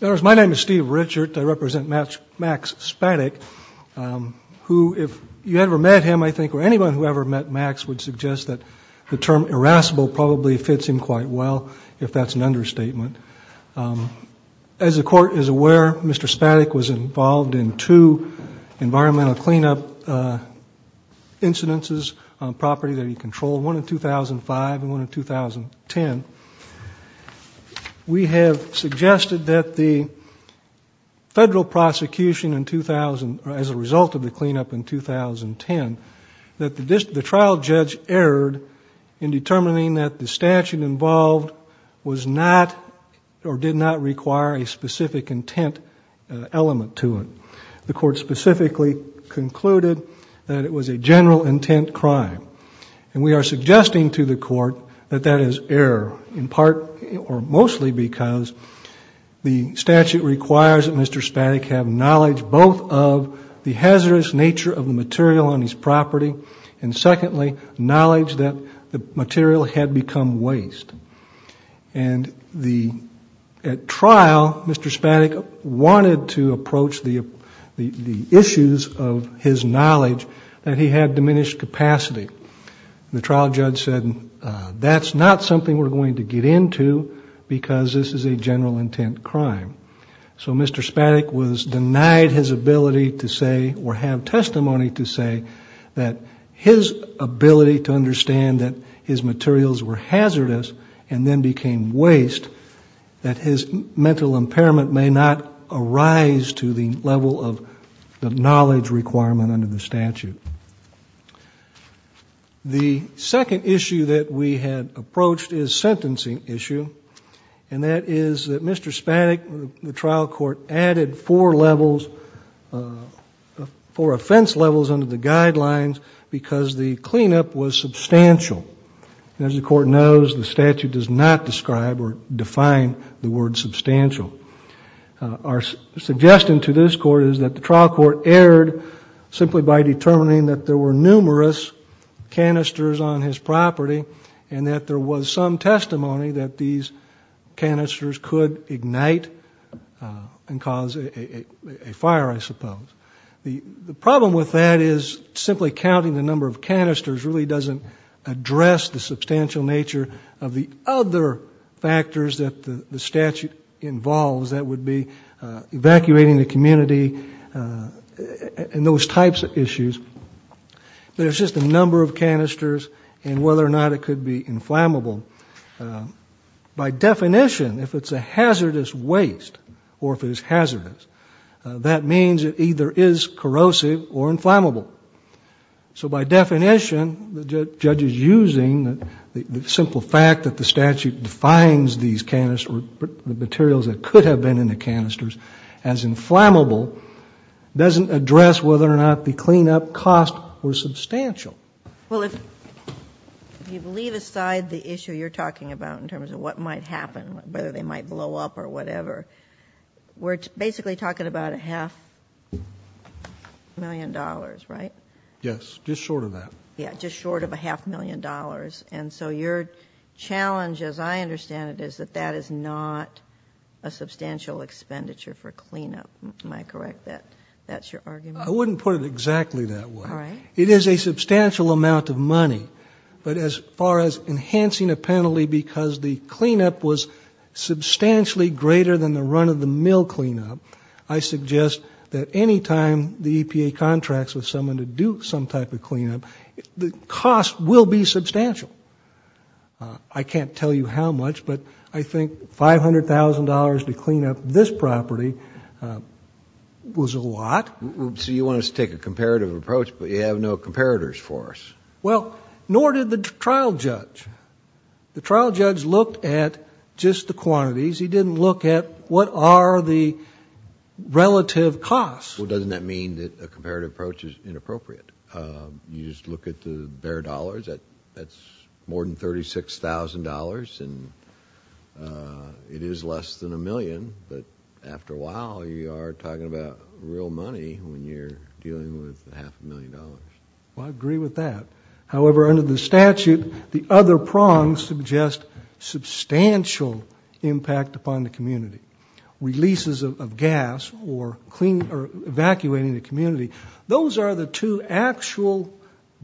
My name is Steve Richard. I represent Max Spatig, who if you ever met him, I think, or anyone who ever met Max would suggest that the term irascible probably fits him quite well, if that's an understatement. As the court is aware, Mr. Spatig was involved in two environmental cleanup incidences on property that he controlled, one in 2005 and one in 2010. We have suggested that the federal prosecution as a result of the cleanup in 2010, that the trial judge erred in determining that the statute involved was not or did not require a specific intent element to it. The court specifically concluded that it was a general intent crime. And we are suggesting to the court that that is error, in part or mostly because the statute requires that Mr. Spatig have knowledge both of the hazardous nature of the material on his property, and secondly, knowledge that the material had become waste. And at trial, Mr. Spatig wanted to approach the issues of his knowledge that he had diminished capacity. The trial judge said, that's not something we're going to get into because this is a general intent crime. So Mr. Spatig was denied his ability to say or have testimony to say that his ability to understand that his materials were hazardous and then became waste, that his mental impairment may not arise to the level of the knowledge requirement under the statute. The second issue that we had approached is sentencing issue, and that is that Mr. Spatig, the trial court added four levels, four offense levels under the guidelines because the cleanup was substantial. And as the court knows, the statute does not describe or define the word substantial. Our suggestion to this court is that the trial court erred simply by determining that there were numerous canisters on his property and that there was some testimony that these canisters could ignite and cause a fire, I suppose. The problem with that is simply counting the number of canisters really doesn't address the substantial nature of the other factors that the statute involves. That would be evacuating the community and those types of issues. There's just a number of canisters and whether or not it could be inflammable. By definition, if it's a hazardous waste or if it is hazardous, that means it either is corrosive or inflammable. So by definition, the judge is using the simple fact that the statute defines these canisters or the materials that could have been in the canisters as inflammable doesn't address whether or not the cleanup costs were substantial. Well, if you leave aside the issue you're talking about in terms of what might happen, whether they might blow up or whatever, we're basically talking about a half million dollars, right? Yes, just short of that. Yeah, just short of a half million dollars. And so your challenge, as I understand it, is that that is not a substantial expenditure for cleanup. Am I correct that that's your argument? I wouldn't put it exactly that way. It is a substantial amount of money. But as far as enhancing a penalty because the cleanup was substantially greater than the run-of-the-mill cleanup, I suggest that any time the EPA contracts with someone to do some type of cleanup, the cost will be substantial. I can't tell you how much, but I think $500,000 to clean up this property was a lot. So you want us to take a comparative approach, but you have no comparators for us? Well, nor did the trial judge. The trial judge looked at just the quantities. He didn't look at what are the relative costs. Well, doesn't that mean that a comparative approach is inappropriate? You just look at the bare dollars. That's more than $36,000, and it is less than a million. But after a while, you are talking about real money when you're dealing with half a million dollars. Well, I agree with that. However, under the statute, the other prongs suggest substantial impact upon the community. Releases of gas or evacuating the community, those are the two actual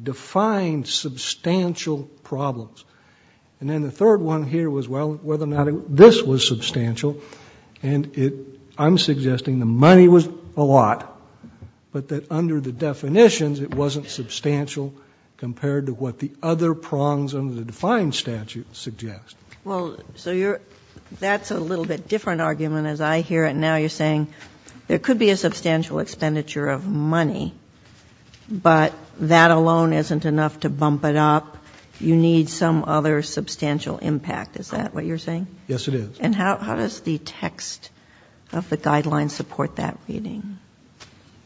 defined substantial problems. And then the third one here was whether or not this was substantial, and I'm suggesting the money was a lot, but that under the definitions it wasn't substantial compared to what the other prongs under the defined statute suggest. Well, so that's a little bit different argument as I hear it now. You're saying there could be a substantial expenditure of money, but that alone isn't enough to bump it up. You need some other substantial impact. Is that what you're saying? Yes, it is. And how does the text of the guidelines support that reading?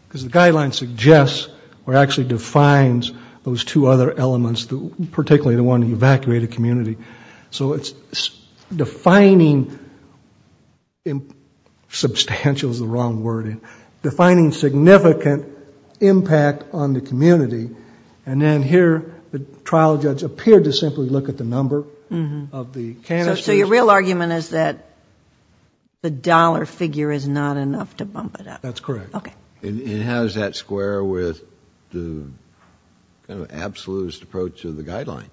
Because the guidelines suggest or actually defines those two other elements, particularly the one evacuating the community. So it's defining substantial is the wrong word, defining significant impact on the community, and then here the trial judge appeared to simply look at the number of the canisters. So your real argument is that the dollar figure is not enough to bump it up. That's correct. Okay. And how does that square with the kind of absolutist approach of the guideline,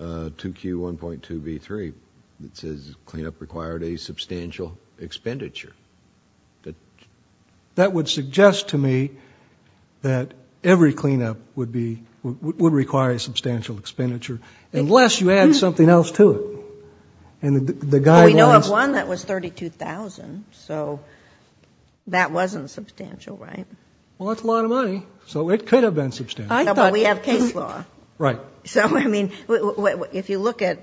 2Q1.2B3, that says cleanup required a substantial expenditure? That would suggest to me that every cleanup would require a substantial expenditure unless you add something else to it. We know of one that was $32,000, so that wasn't substantial, right? Well, that's a lot of money, so it could have been substantial. But we have case law. Right. So, I mean, if you look at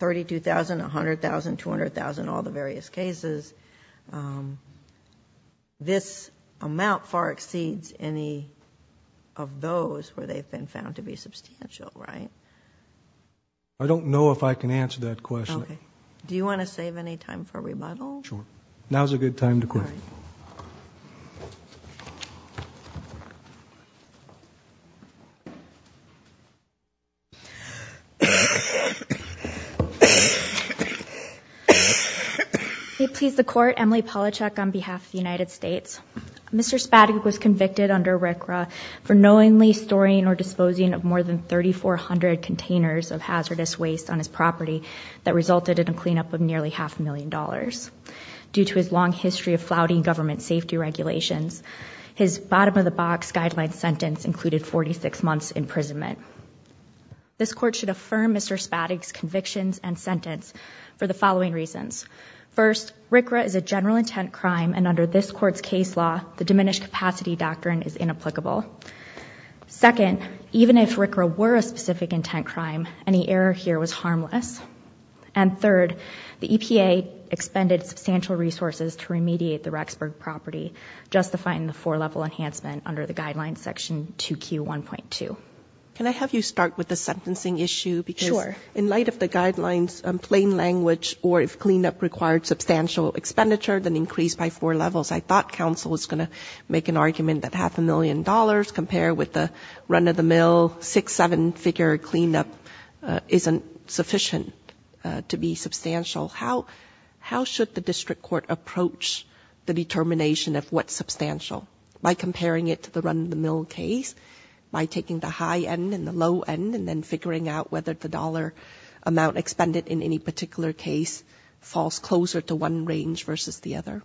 $32,000, $100,000, $200,000, all the various cases, this amount far exceeds any of those where they've been found to be substantial, right? I don't know if I can answer that question. Okay. Do you want to save any time for rebuttal? Sure. Now's a good time to question. All right. May it please the Court, Emily Palachuk on behalf of the United States. Mr. Spadig was convicted under RCRA for knowingly storing or disposing of more than 3,400 containers of hazardous waste on his property that resulted in a cleanup of nearly half a million dollars. Due to his long history of flouting government safety regulations, his bottom-of-the-box guideline sentence included 46 months' imprisonment. This Court should affirm Mr. Spadig's convictions and sentence for the following reasons. First, RCRA is a general intent crime, and under this Court's case law, the diminished capacity doctrine is inapplicable. Second, even if RCRA were a specific intent crime, any error here was harmless. And third, the EPA expended substantial resources to remediate the Rexburg property, justifying the four-level enhancement under the guidelines section 2Q1.2. Can I have you start with the sentencing issue? Sure. In light of the guidelines' plain language, or if cleanup required substantial expenditure, then increase by four levels, I thought counsel was going to make an argument that half a million dollars compared with the run-of-the-mill, six-, seven-figure cleanup isn't sufficient to be substantial. How should the district court approach the determination of what's substantial? By comparing it to the run-of-the-mill case? By taking the high end and the low end and then figuring out whether the dollar amount expended in any particular case falls closer to one range versus the other?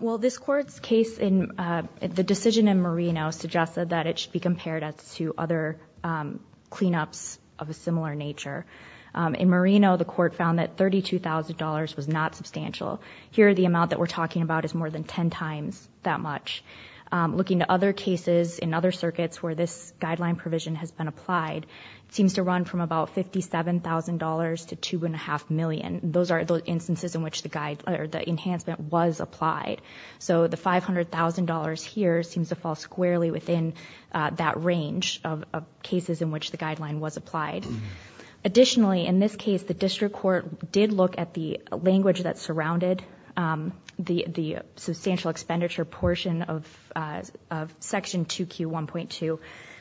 Well, this Court's case in the decision in Merino suggested that it should be compared to other cleanups of a similar nature. In Merino, the Court found that $32,000 was not substantial. Here, the amount that we're talking about is more than ten times that much. Looking at other cases in other circuits where this guideline provision has been applied, it seems to run from about $57,000 to $2.5 million. Those are the instances in which the enhancement was applied. So the $500,000 here seems to fall squarely within that range of cases in which the guideline was applied. Additionally, in this case, the district court did look at the language that surrounded the substantial expenditure portion of Section 2Q1.2,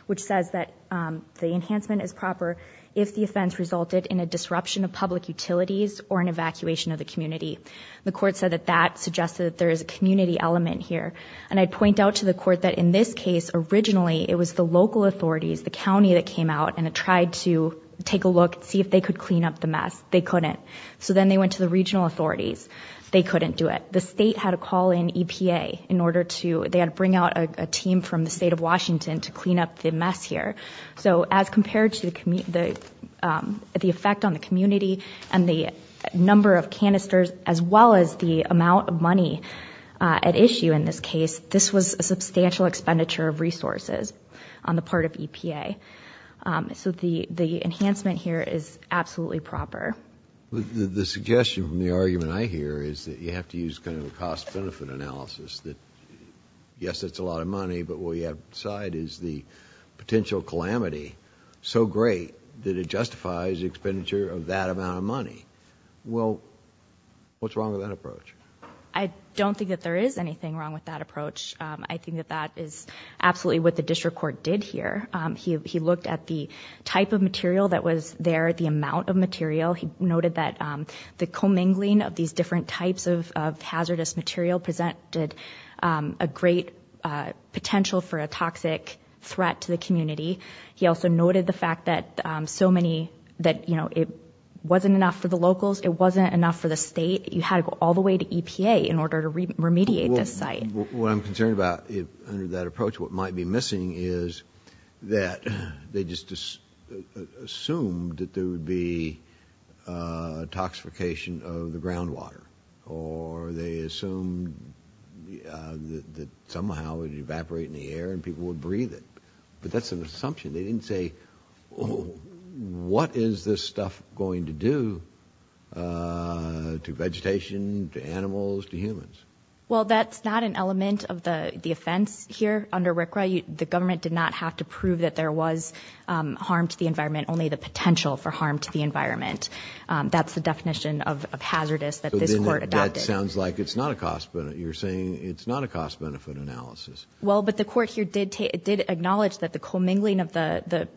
which says that the enhancement is proper if the offense resulted in a disruption of public utilities or an evacuation of the community. The Court said that that suggested that there is a community element here. And I'd point out to the Court that in this case, originally, it was the local authorities, the county that came out and tried to take a look and see if they could clean up the mess. They couldn't. So then they went to the regional authorities. They couldn't do it. The state had to call in EPA in order to bring out a team from the state of Washington to clean up the mess here. So as compared to the effect on the community and the number of canisters, as well as the amount of money at issue in this case, this was a substantial expenditure of resources on the part of EPA. So the enhancement here is absolutely proper. The suggestion from the argument I hear is that you have to use kind of a cost-benefit analysis, that yes, it's a lot of money, but what you have to decide is the potential calamity, so great that it justifies the expenditure of that amount of money. Well, what's wrong with that approach? I don't think that there is anything wrong with that approach. I think that that is absolutely what the district court did here. He looked at the type of material that was there, the amount of material. He noted that the commingling of these different types of hazardous material presented a great potential for a toxic threat to the community. He also noted the fact that it wasn't enough for the locals. It wasn't enough for the state. You had to go all the way to EPA in order to remediate this site. What I'm concerned about under that approach, what might be missing, is that they just assumed that there would be toxification of the groundwater, or they assumed that somehow it would evaporate in the air and people would breathe it. But that's an assumption. They didn't say, oh, what is this stuff going to do to vegetation, to animals, to humans? Well, that's not an element of the offense here under RCRA. The government did not have to prove that there was harm to the environment, only the potential for harm to the environment. That's the definition of hazardous that this court adopted. That sounds like it's not a cost benefit. You're saying it's not a cost benefit analysis. Well, but the court here did acknowledge that the commingling of the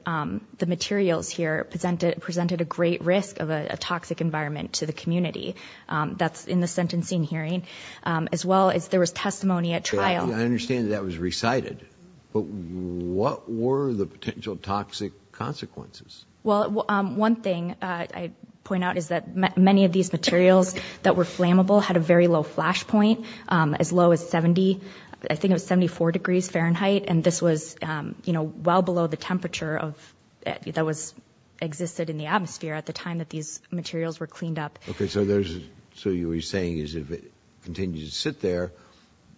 materials here presented a great risk of a toxic environment to the community. That's in the sentencing hearing, as well as there was testimony at trial. I understand that was recited. But what were the potential toxic consequences? Well, one thing I point out is that many of these materials that were flammable had a very low flash point, as low as 70, I think it was 74 degrees Fahrenheit, and this was well below the temperature that existed in the atmosphere at the time that these materials were cleaned up. Okay. So you were saying is if it continues to sit there,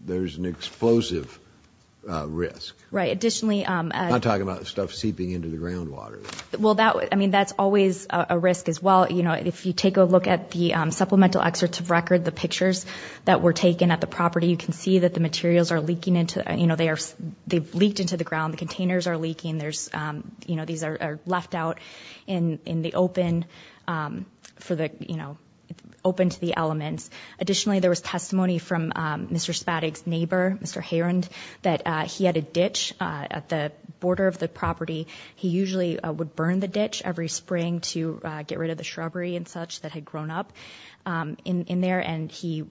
there's an explosive risk. Right. Additionally— I'm not talking about stuff seeping into the groundwater. Well, that's always a risk, as well. If you take a look at the supplemental excerpt of record, the pictures that were taken at the property, you can see that the materials are leaking into the ground. The containers are leaking. These are left out in the open to the elements. Additionally, there was testimony from Mr. Spadig's neighbor, Mr. Herond, that he had a ditch at the border of the property. He usually would burn the ditch every spring to get rid of the shrubbery and such that had grown up in there, and he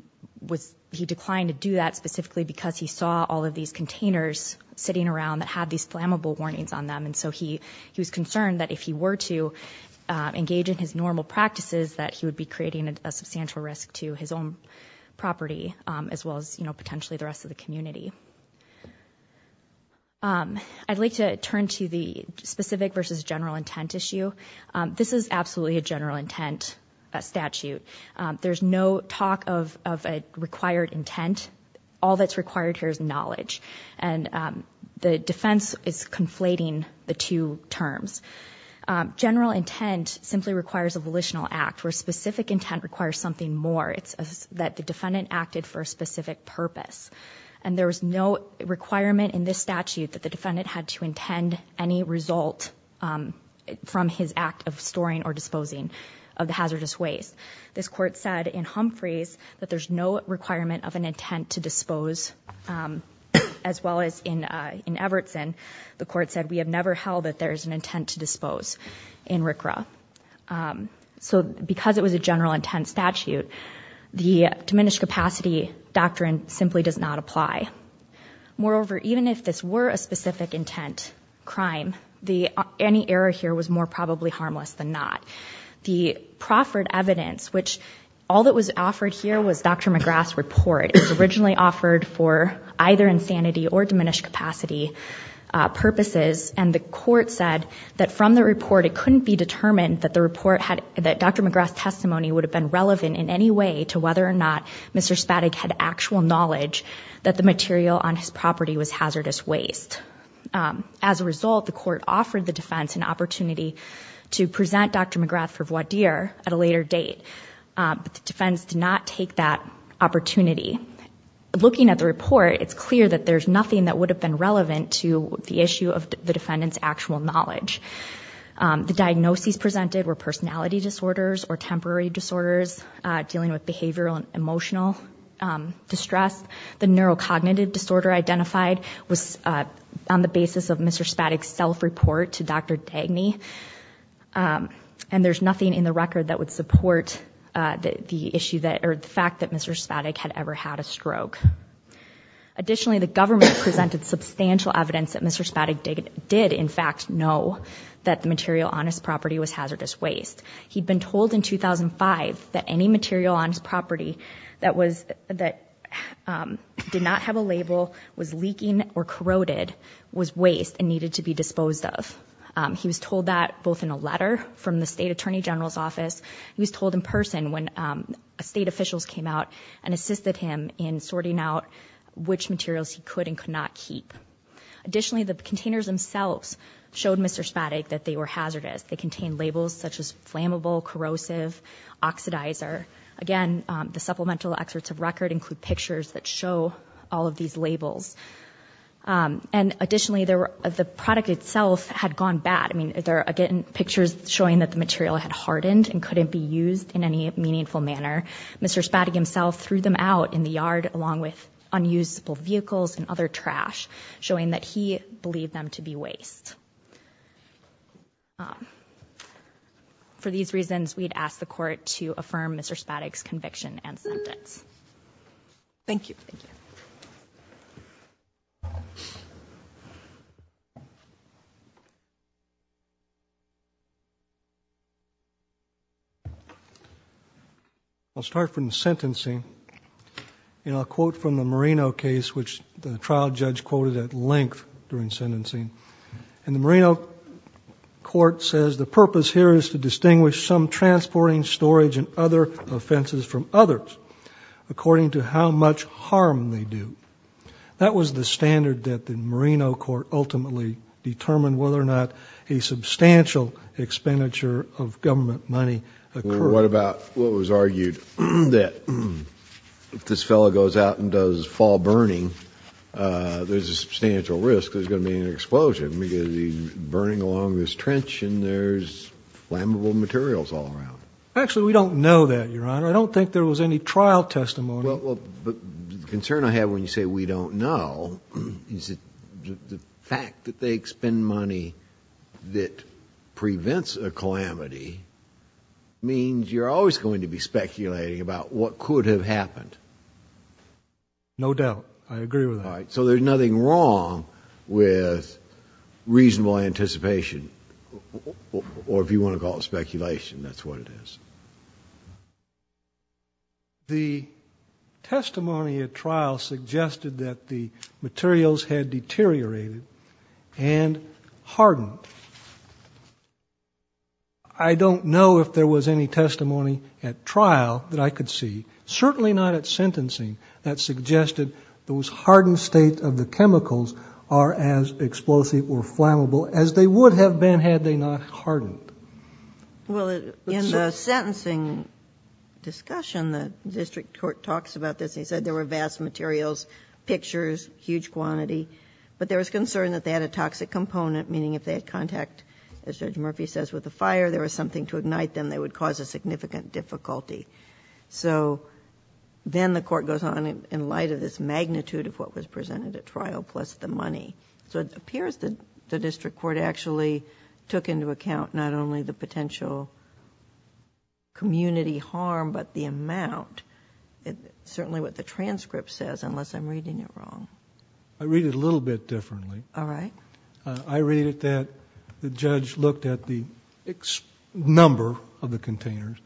declined to do that specifically because he saw all of these containers sitting around that had these flammable warnings on them, and so he was concerned that if he were to engage in his normal practices, that he would be creating a substantial risk to his own property, as well as potentially the rest of the community. I'd like to turn to the specific versus general intent issue. This is absolutely a general intent statute. There's no talk of a required intent. All that's required here is knowledge, and the defense is conflating the two terms. General intent simply requires a volitional act, where specific intent requires something more. It's that the defendant acted for a specific purpose, and there was no requirement in this statute that the defendant had to intend any result from his act of storing or disposing of the hazardous waste. This court said in Humphreys that there's no requirement of an intent to dispose, as well as in Evertson, the court said, we have never held that there is an intent to dispose in RCRA. So because it was a general intent statute, the diminished capacity doctrine simply does not apply. Moreover, even if this were a specific intent crime, any error here was more probably harmless than not. The proffered evidence, which all that was offered here was Dr. McGrath's report. It was originally offered for either insanity or diminished capacity purposes, and the court said that from the report, it couldn't be determined that Dr. McGrath's testimony would have been relevant in any way to whether or not Mr. Spaddock had actual knowledge that the material on his property was hazardous waste. As a result, the court offered the defense an opportunity to present Dr. McGrath for voir dire at a later date, but the defense did not take that opportunity. Looking at the report, it's clear that there's nothing that would have been relevant to the issue of the defendant's actual knowledge. The diagnoses presented were personality disorders or temporary disorders, dealing with behavioral and emotional distress. The neurocognitive disorder identified was on the basis of Mr. Spaddock's self-report to Dr. Dagny, and there's nothing in the record that would support the fact that Mr. Spaddock had ever had a stroke. Additionally, the government presented substantial evidence that Mr. Spaddock did, in fact, know that the material on his property was hazardous waste. He'd been told in 2005 that any material on his property that did not have a label, was leaking or corroded, was waste and needed to be disposed of. He was told that both in a letter from the state attorney general's office. He was told in person when state officials came out and assisted him in sorting out which materials he could and could not keep. Additionally, the containers themselves showed Mr. Spaddock that they were hazardous. They contained labels such as flammable, corrosive, oxidizer. Again, the supplemental excerpts of record include pictures that show all of these labels. Additionally, the product itself had gone bad. There are, again, pictures showing that the material had hardened and couldn't be used in any meaningful manner. Mr. Spaddock himself threw them out in the yard along with unusable vehicles and other trash, showing that he believed them to be waste. For these reasons, we'd ask the court to affirm Mr. Spaddock's conviction and sentence. Thank you. I'll start from the sentencing, and I'll quote from the Marino case, which the trial judge quoted at length during sentencing. And the Marino court says, The purpose here is to distinguish some transporting, storage, and other offenses from others according to how much harm they do. That was the standard that the Marino court ultimately determined whether or not a substantial expenditure of government money occurred. What about what was argued that if this fellow goes out and does fall burning, there's a substantial risk there's going to be an explosion because he's burning along this trench and there's flammable materials all around. Actually, we don't know that, Your Honor. I don't think there was any trial testimony. Well, the concern I have when you say we don't know is that the fact that they expend money that prevents a calamity means you're always going to be speculating about what could have happened. No doubt. I agree with that. All right. So there's nothing wrong with reasonable anticipation, or if you want to call it speculation, that's what it is. The testimony at trial suggested that the materials had deteriorated and hardened. I don't know if there was any testimony at trial that I could see, certainly not at sentencing, that suggested those hardened states of the chemicals are as explosive or flammable as they would have been had they not hardened. Well, in the sentencing discussion, the district court talks about this and he said there were vast materials, pictures, huge quantity, but there was concern that they had a toxic component, meaning if they had contact, as Judge Murphy says, with a fire, there was something to ignite them that would cause a significant difficulty. So then the court goes on in light of this magnitude of what was presented at trial plus the money. So it appears that the district court actually took into account not only the potential community harm, but the amount. It's certainly what the transcript says, unless I'm reading it wrong. I read it a little bit differently. All right. I read it that the judge looked at the number of the containers,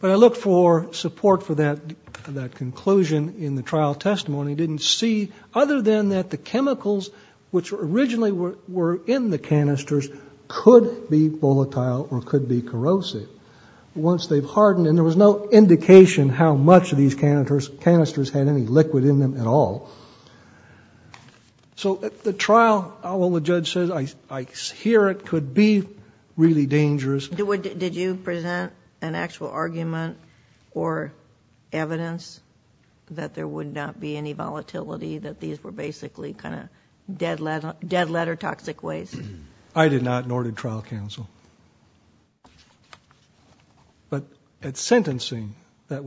but I look for support for that conclusion in the trial testimony. He didn't see other than that the chemicals, which originally were in the canisters, could be volatile or could be corrosive. Once they've hardened, and there was no indication how much of these canisters had any liquid in them at all. So at the trial, the judge says, I hear it could be really dangerous. Did you present an actual argument or evidence that there would not be any volatility, that these were basically kind of dead letter toxic waste? I did not, nor did trial counsel. But at sentencing, the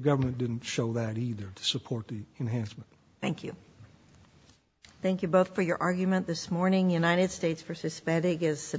government didn't show that either to support the enhancement. Thank you. Thank you both for your argument this morning. United States v. Spadic is sentencing.